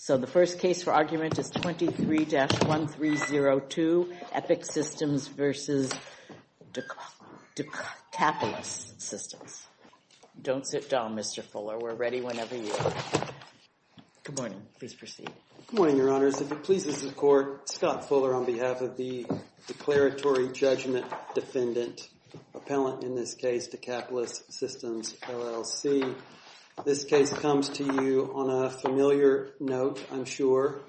So the first case for argument is 23-1302, EPIC Systems v. Decapolis Systems. Don't sit down, Mr. Fuller. We're ready whenever you are. Good morning. Please proceed. Good morning, Your Honors. If it pleases the Court, Scott Fuller on behalf of the Declaratory Judgment Defendant, appellant in this case, Decapolis Systems, LLC. This case comes to you on a familiar note, I'm sure.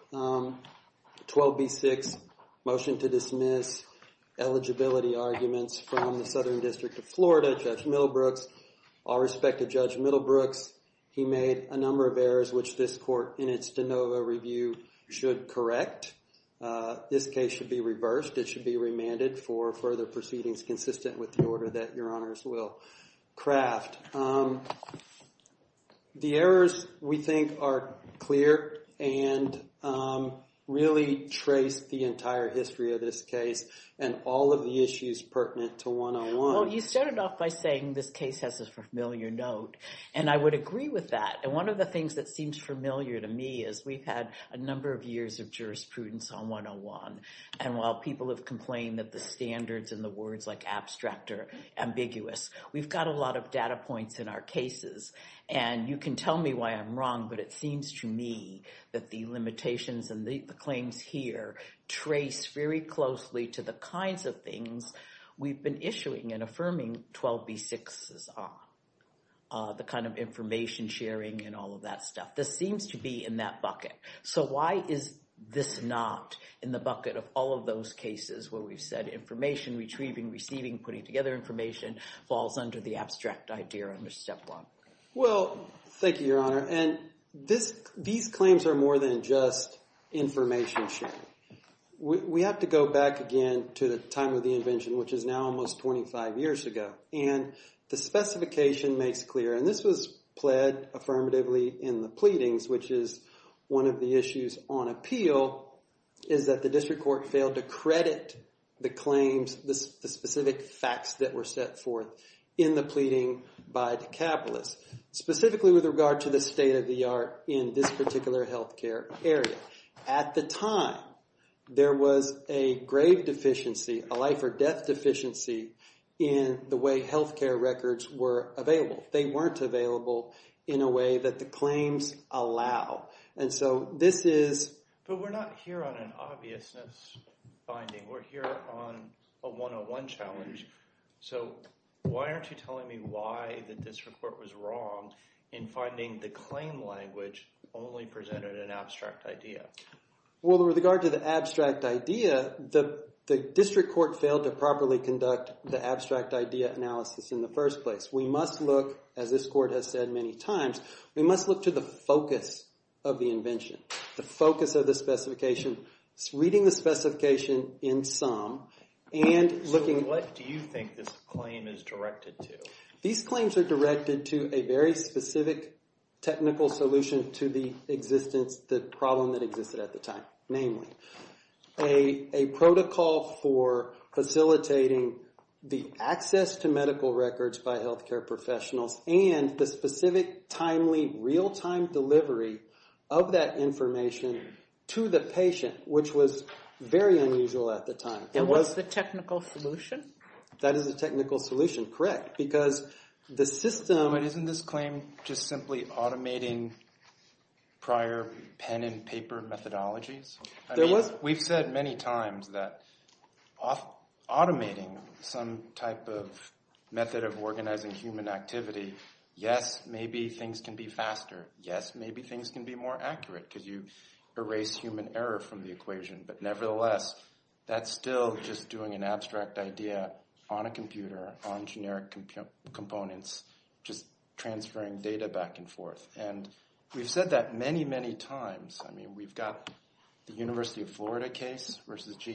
12b-6, motion to dismiss. Eligibility arguments from the Southern District of Florida, Judge Middlebrooks. All respect to Judge Middlebrooks, he made a number of errors which this court, in its de novo review, should correct. This case should be reversed. It should be remanded for further proceedings consistent with the order that The errors, we think, are clear and really trace the entire history of this case and all of the issues pertinent to 101. Well, you started off by saying this case has a familiar note, and I would agree with that. And one of the things that seems familiar to me is we've had a number of years of jurisprudence on 101, and while people have complained that the standards and the words like abstract are ambiguous, we've got a lot of data points in our cases. And you can tell me why I'm wrong, but it seems to me that the limitations and the claims here trace very closely to the kinds of things we've been issuing and affirming 12b-6s on, the kind of information sharing and all of that stuff. This seems to be in that bucket. So why is this not in the bucket of all of those cases where we've said information retrieving, receiving, putting together information falls under the abstract idea under Step 1? Well, thank you, Your Honor, and these claims are more than just information sharing. We have to go back again to the time of the invention, which is now almost 25 years ago, and the specification makes clear, and this was pled affirmatively in the pleadings, which is one of the issues on appeal, is that the district court failed to credit the claims, the specific facts that were set forth in the pleading by the capitalists, specifically with regard to the state-of-the-art in this particular healthcare area. At the time, there was a grave deficiency, a life-or-death deficiency, in the way healthcare records were available. They weren't available in a way that the claims allow, and so this is— But we're not here on an obviousness finding. We're here on a 101 challenge. So why aren't you telling me why the district court was wrong in finding the claim language only presented an abstract idea? Well, with regard to the abstract idea, the district court failed to properly conduct the abstract idea analysis in the first place. We must look, as this court has said many times, we must look to the focus of the invention, the focus of the specification, reading the specification in sum, and looking— So what do you think this claim is directed to? These claims are directed to a very specific technical solution to the existence, the problem that existed at the time, namely, a protocol for facilitating the access to medical records by healthcare professionals and the specific, timely, real-time delivery of that information to the patient, which was very unusual at the time. And what's the technical solution? That is the technical solution, correct, because the system— But isn't this claim just simply automating prior pen-and-paper methodologies? I mean, we've said many times that automating some type of method of organizing human activity, yes, maybe things can be faster, yes, maybe things can be more accurate because you erase human error from the equation, but nevertheless, that's still just doing an abstract idea on a computer, on generic components, just transferring data back and forth. And we've said that many, many times. I mean, we've got the University of Florida case versus GE.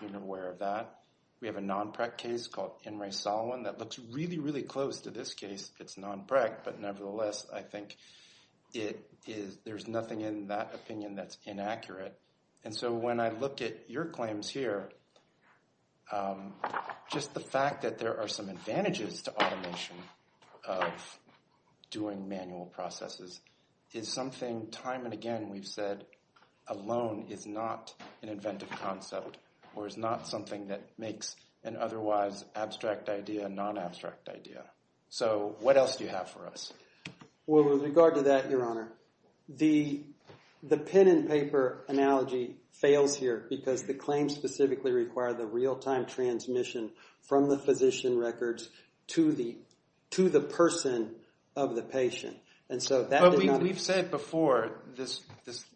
You're aware of that. We have a non-PREC case called N. Ray Solomon that looks really, really close to this case. It's non-PREC, but nevertheless, I think there's nothing in that opinion that's inaccurate. And so when I look at your claims here, just the fact that there are some advantages to automation of doing manual processes is something time and again we've said alone is not an inventive concept or is not something that makes an otherwise abstract idea a non-abstract idea. So what else do you have for us? Well, with regard to that, Your Honor, the pen and paper analogy fails here because the claims specifically require the real-time transmission from the physician records to the person of the patient. And so that did not— But we've said before this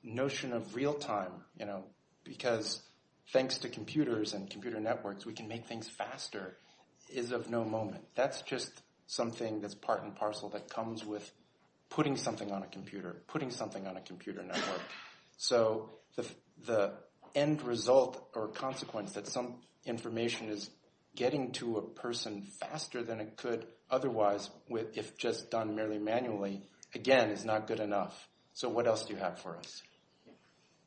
notion of real-time, you know, because thanks to computers and computer networks, we can make things faster, is of no moment. That's just something that's part and parcel that comes with putting something on a computer, putting something on a computer network. So the end result or consequence that some information is getting to a person faster than it could otherwise, if just done merely manually, again, is not good enough. So what else do you have for us?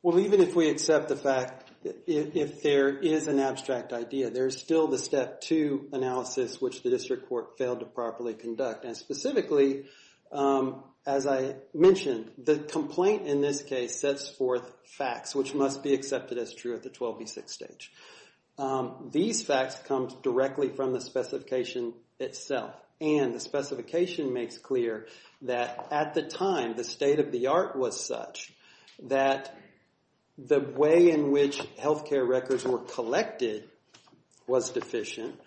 Well, even if we accept the fact that if there is an abstract idea, there's still the step two analysis, which the district court failed to properly conduct. And specifically, as I mentioned, the complaint in this case sets forth facts, which must be accepted as true at the 12B6 stage. These facts come directly from the specification itself. And the specification makes clear that at the time, the state of the art was such that the way in which healthcare records were collected was deficient.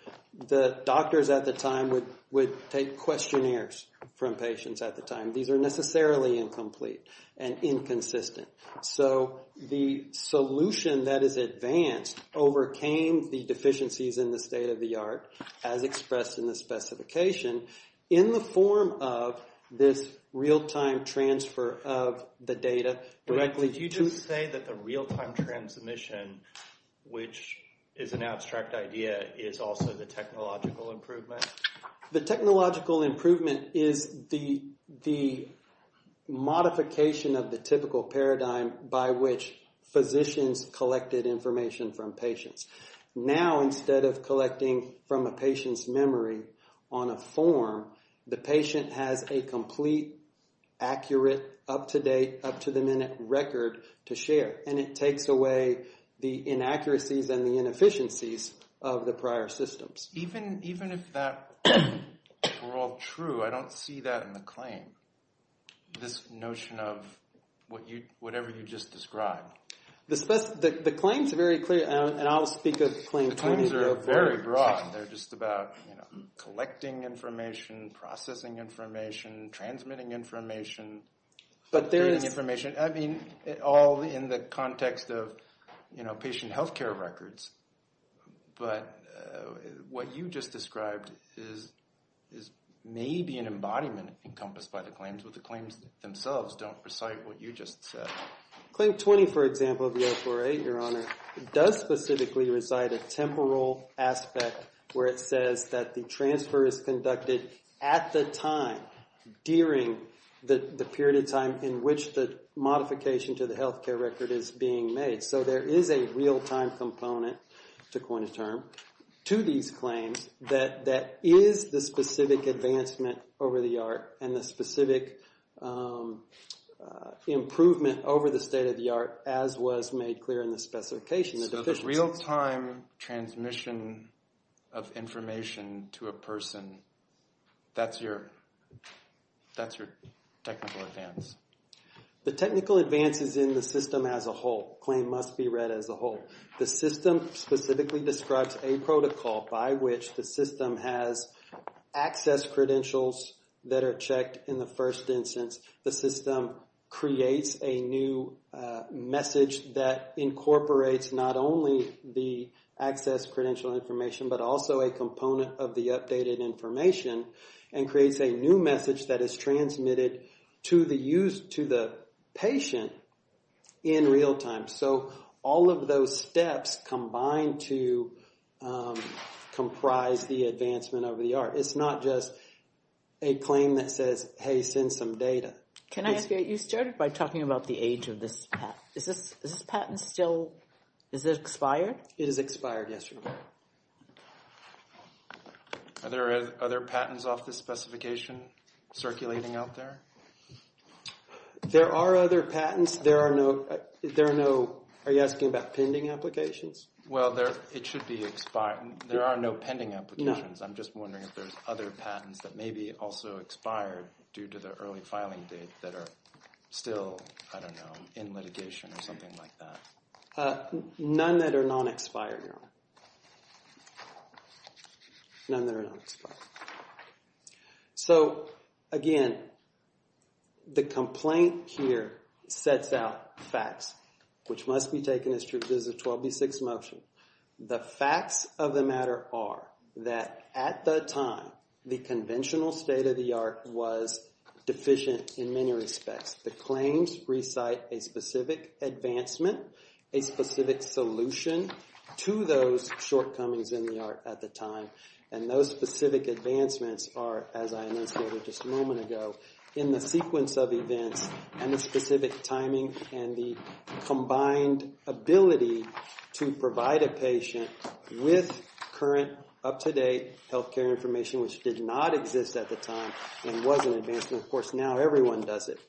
The doctors at the time would take questionnaires from patients at the time. These are necessarily incomplete and inconsistent. So the solution that is advanced overcame the deficiencies in the state of the art, as expressed in the specification, in the form of this real-time transfer of the data. Did you just say that the real-time transmission, which is an abstract idea, is also the technological improvement? The technological improvement is the modification of the typical paradigm by which physicians collected information from patients. Now, instead of collecting from a patient's memory on a form, the patient has a complete, accurate, up-to-date, up-to-the-minute record to share. And it takes away the inaccuracies and the inefficiencies of the prior systems. Even if that were all true, I don't see that in the claim, this notion of whatever you just described. The claims are very clear, and I'll speak of Claim 20. The claims are very broad. They're just about collecting information, processing information, transmitting information, updating information, all in the context of patient healthcare records. But what you just described is maybe an embodiment encompassed by the claims, but the claims themselves don't recite what you just said. Claim 20, for example, of the 048, Your Honor, does specifically recite a temporal aspect where it says that the transfer is conducted at the time, during the period of time in which the modification to the healthcare record is being made. So there is a real-time component, to coin a term, to these claims that is the specific advancement over the art and the specific improvement over the state-of-the-art, as was made clear in the specification, the deficiencies. So the real-time transmission of information to a person, that's your technical advance? The technical advance is in the system as a whole. The claim must be read as a whole. The system specifically describes a protocol by which the system has access credentials that are checked in the first instance. The system creates a new message that incorporates not only the access credential information, but also a component of the updated information, and creates a new message that is transmitted to the patient in real-time. So all of those steps combine to comprise the advancement over the art. It's not just a claim that says, hey, send some data. Can I ask you, you started by talking about the age of this patent. Is this patent still, is it expired? It is expired, yes, Your Honor. Are there other patents off this specification circulating out there? There are other patents. There are no, are you asking about pending applications? Well, it should be expired. There are no pending applications. I'm just wondering if there's other patents that may be also expired due to the early filing date that are still, I don't know, in litigation or something like that. None that are non-expired, Your Honor. None that are non-expired. So again, the complaint here sets out facts, which must be taken as true. This is a 12B6 motion. The facts of the matter are that at the time, the conventional state of the art was deficient in many respects. The claims recite a specific advancement, a specific solution to those shortcomings in the art at the time, and those specific advancements are, as I mentioned just a moment ago, in the sequence of events and the specific timing and the combined ability to provide a patient with current, up-to-date health care information, which did not exist at the time and was an advancement. Of course, now everyone does it.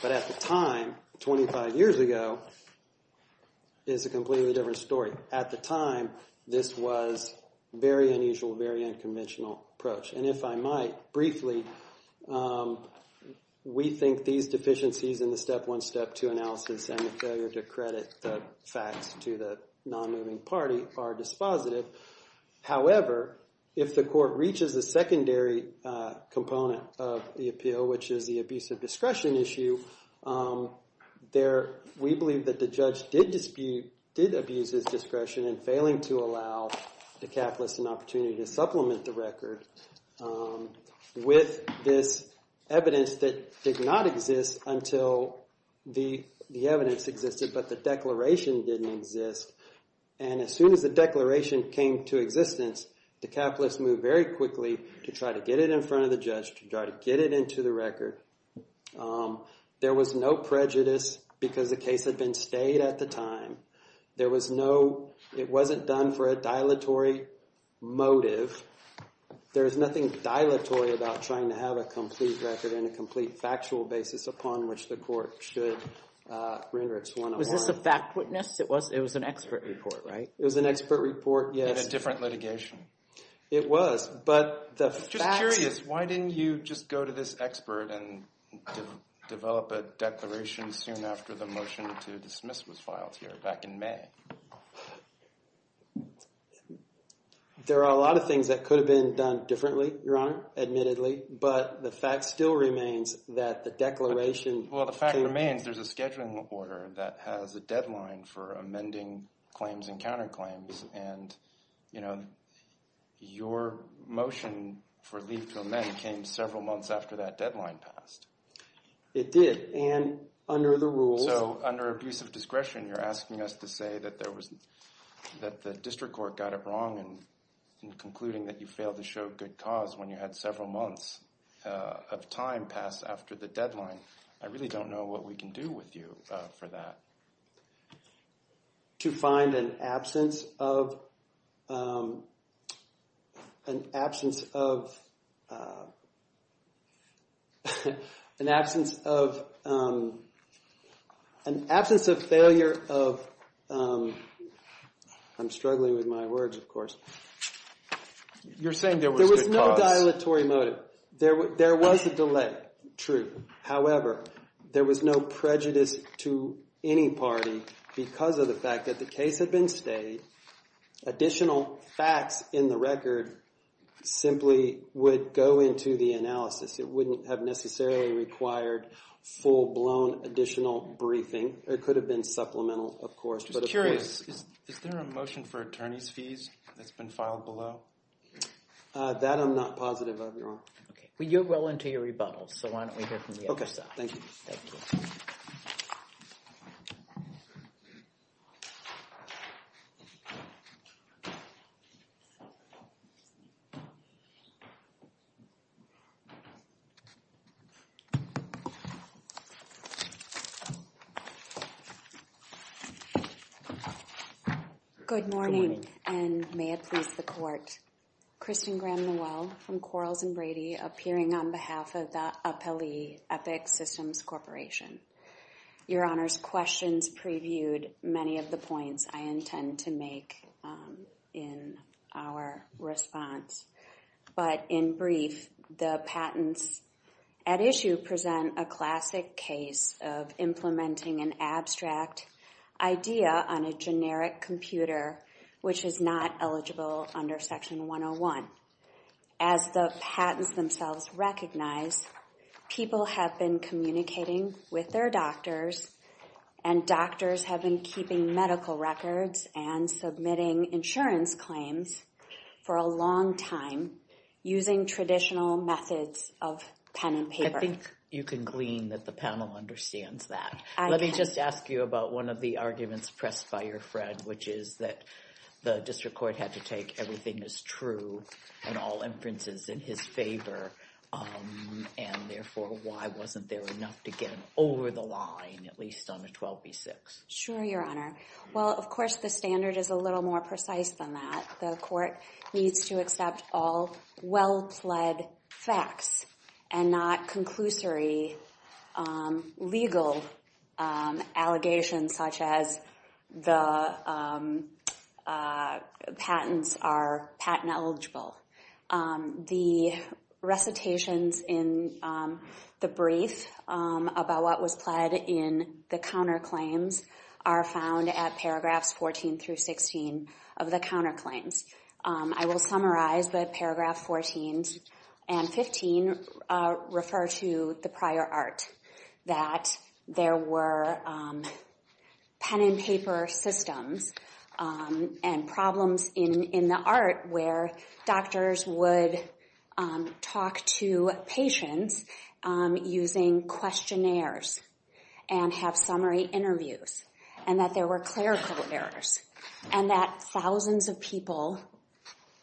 But at the time, 25 years ago, is a completely different story. At the time, this was very unusual, very unconventional approach. And if I might briefly, we think these deficiencies in the Step 1, Step 2 analysis and the failure to credit the facts to the non-moving party are dispositive. However, if the court reaches the secondary component of the appeal, which is the abusive discretion issue, we believe that the judge did abuse his discretion in failing to allow the capitalists an opportunity to supplement the record with this evidence that did not exist until the evidence existed, but the declaration didn't exist. And as soon as the declaration came to existence, the capitalists moved very quickly to try to get it in front of the judge, to try to get it into the record. There was no prejudice because the case had been stayed at the time. There was no—it wasn't done for a dilatory motive. There's nothing dilatory about trying to have a complete record and a complete factual basis upon which the court should render its 101. Was this a fact witness? It was an expert report, right? It was an expert report, yes. In a different litigation? It was, but the facts— Why didn't you just go to this expert and develop a declaration soon after the motion to dismiss was filed here back in May? There are a lot of things that could have been done differently, Your Honor, admittedly, but the fact still remains that the declaration— Well, the fact remains there's a scheduling order that has a deadline for amending claims and counterclaims, and, you know, your motion for leave to amend came several months after that deadline passed. It did, and under the rules— So, under abuse of discretion, you're asking us to say that there was— that the district court got it wrong in concluding that you failed to show good cause when you had several months of time passed after the deadline. I really don't know what we can do with you for that. To find an absence of—an absence of—an absence of—an absence of failure of— I'm struggling with my words, of course. You're saying there was good cause. There was no dilatory motive. There was a delay, true. However, there was no prejudice to any party because of the fact that the case had been stayed. Additional facts in the record simply would go into the analysis. It wouldn't have necessarily required full-blown additional briefing. It could have been supplemental, of course, but— Just curious, is there a motion for attorney's fees that's been filed below? That I'm not positive of, Your Honor. Okay. Well, you're well into your rebuttals, so why don't we hear from the other side. Okay. Thank you. Thank you. Good morning, and may it please the court. Kristen Graham-Noel from Quarles & Brady, appearing on behalf of the Appellee Epic Systems Corporation. Your Honor's questions previewed many of the points I intend to make in our response, but in brief, the patents at issue present a classic case of implementing an abstract idea on a generic computer, which is not eligible under Section 101. As the patents themselves recognize, people have been communicating with their doctors, and doctors have been keeping medical records and submitting insurance claims for a long time, using traditional methods of pen and paper. I think you can glean that the panel understands that. I can. I'd like to ask you about one of the arguments pressed by your friend, which is that the district court had to take everything as true and all inferences in his favor, and therefore, why wasn't there enough to get him over the line, at least on a 12B6? Sure, Your Honor. Well, of course, the standard is a little more precise than that. The court needs to accept all well-pled facts and not conclusory legal allegations, such as the patents are patent eligible. The recitations in the brief about what was pled in the counterclaims are found at paragraphs 14 through 16 of the counterclaims. I will summarize that paragraph 14 and 15 refer to the prior art, that there were pen and paper systems and problems in the art where doctors would talk to patients using questionnaires and have summary interviews, and that there were clerical errors, and that thousands of people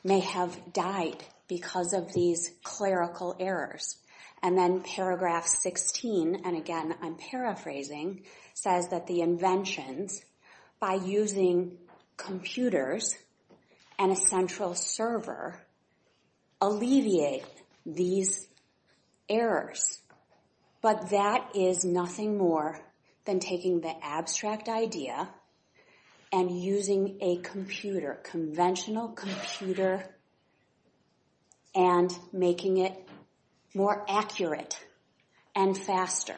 may have died because of these clerical errors. And then paragraph 16, and again, I'm paraphrasing, says that the inventions by using computers and a central server alleviate these errors. But that is nothing more than taking the abstract idea and using a computer, conventional computer, and making it more accurate and faster.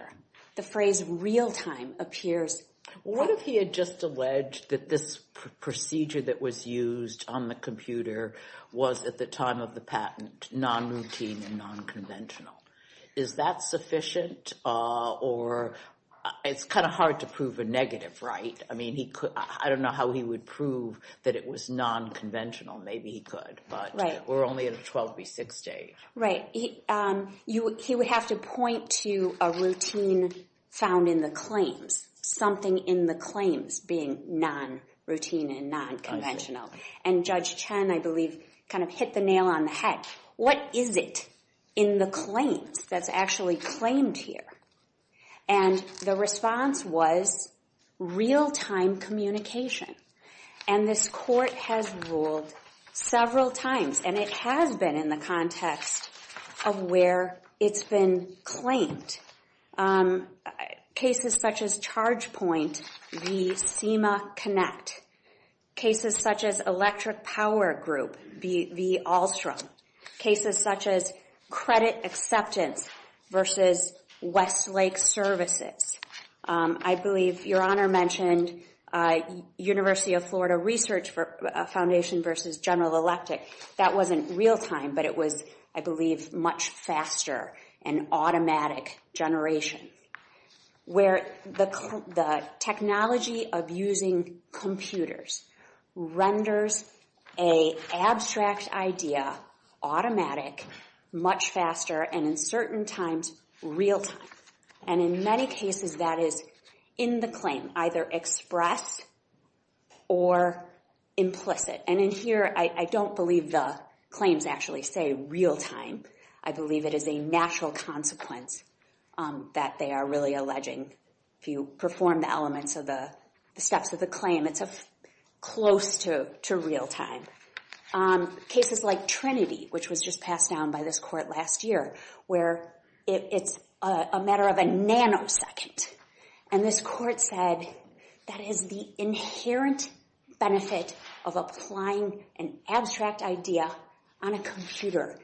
The phrase real-time appears. What if he had just alleged that this procedure that was used on the computer was, at the time of the patent, non-routine and non-conventional? Is that sufficient? Or it's kind of hard to prove a negative, right? I mean, I don't know how he would prove that it was non-conventional. Maybe he could, but we're only at a 12 v. 6 stage. Right. He would have to point to a routine found in the claims, something in the claims being non-routine and non-conventional. What is it in the claims that's actually claimed here? And the response was real-time communication. And this court has ruled several times, and it has been in the context of where it's been claimed, cases such as credit acceptance versus Westlake Services. I believe Your Honor mentioned University of Florida Research Foundation versus General Electric. That wasn't real-time, but it was, I believe, much faster and automatic generation. Where the technology of using computers renders a abstract idea automatic much faster and in certain times, real-time. And in many cases, that is in the claim, either express or implicit. And in here, I don't believe the claims actually say real-time. I believe it is a natural consequence that they are really alleging. If you perform the elements of the steps of the claim, it's close to real-time. Cases like Trinity, which was just passed down by this court last year, where it's a matter of a nanosecond. And this court said that is the inherent benefit of applying an abstract idea on a computer.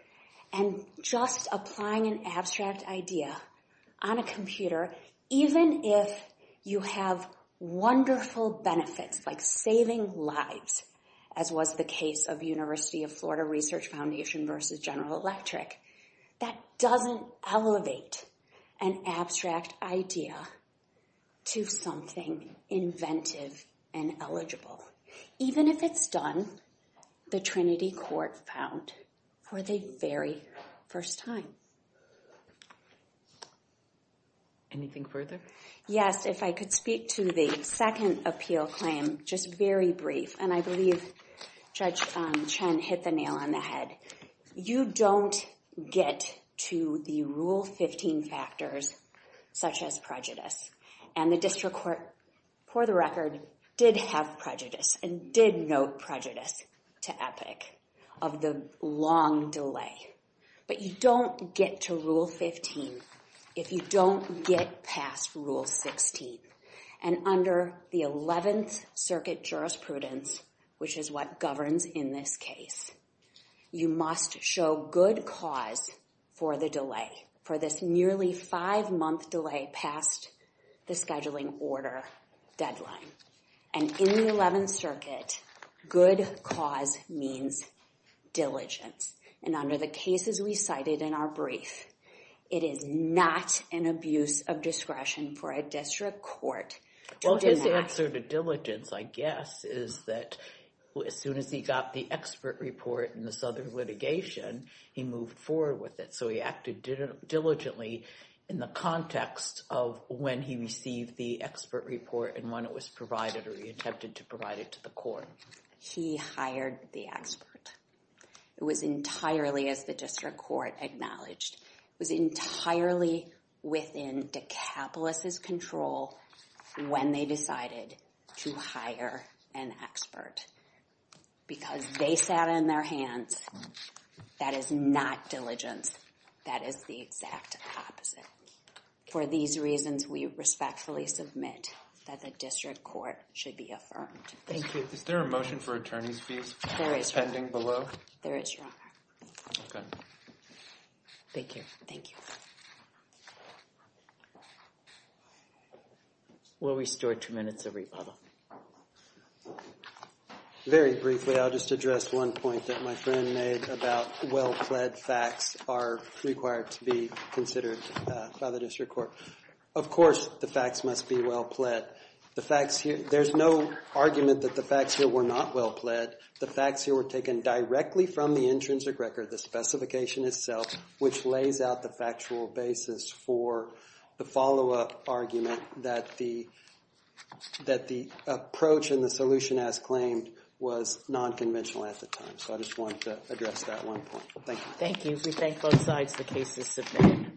And just applying an abstract idea on a computer, even if you have wonderful benefits, like saving lives, as was the case of University of Florida Research Foundation versus General Electric, that doesn't elevate an abstract idea to something inventive and eligible. Even if it's done, the Trinity court found for the very first time. Anything further? Yes, if I could speak to the second appeal claim, just very brief. And I believe Judge Chen hit the nail on the head. You don't get to the Rule 15 factors, such as prejudice. And the district court, for the record, did have prejudice and did note prejudice to Epic of the long delay. But you don't get to Rule 15 if you don't get past Rule 16. And under the 11th Circuit Jurisprudence, which is what governs in this case, you must show good cause for the delay, for this nearly five-month delay past the scheduling order deadline. And in the 11th Circuit, good cause means diligence. And under the cases we cited in our brief, it is not an abuse of discretion for a district court to do that. Well, his answer to diligence, I guess, is that as soon as he got the expert report and this other litigation, he moved forward with it. So he acted diligently in the context of when he received the expert report and when it was provided or he attempted to provide it to the court. He hired the expert. It was entirely, as the district court acknowledged, it was entirely within DeCapolis' control when they decided to hire an expert because they sat on their hands. That is not diligence. That is the exact opposite. For these reasons, we respectfully submit that the district court should be affirmed. Thank you. Is there a motion for attorney's fees pending below? There is, Your Honor. Thank you. Thank you. We'll restore two minutes of rebuttal. Very briefly, I'll just address one point that my friend made about well-pled facts are required to be considered by the district court. Of course, the facts must be well-pled. There's no argument that the facts here were not well-pled. The facts here were taken directly from the intrinsic record, the specification itself, which lays out the factual basis for the follow-up argument that the approach and the solution as claimed was nonconventional at the time. So I just wanted to address that one point. Thank you. Thank you. We thank both sides. The case is submitted.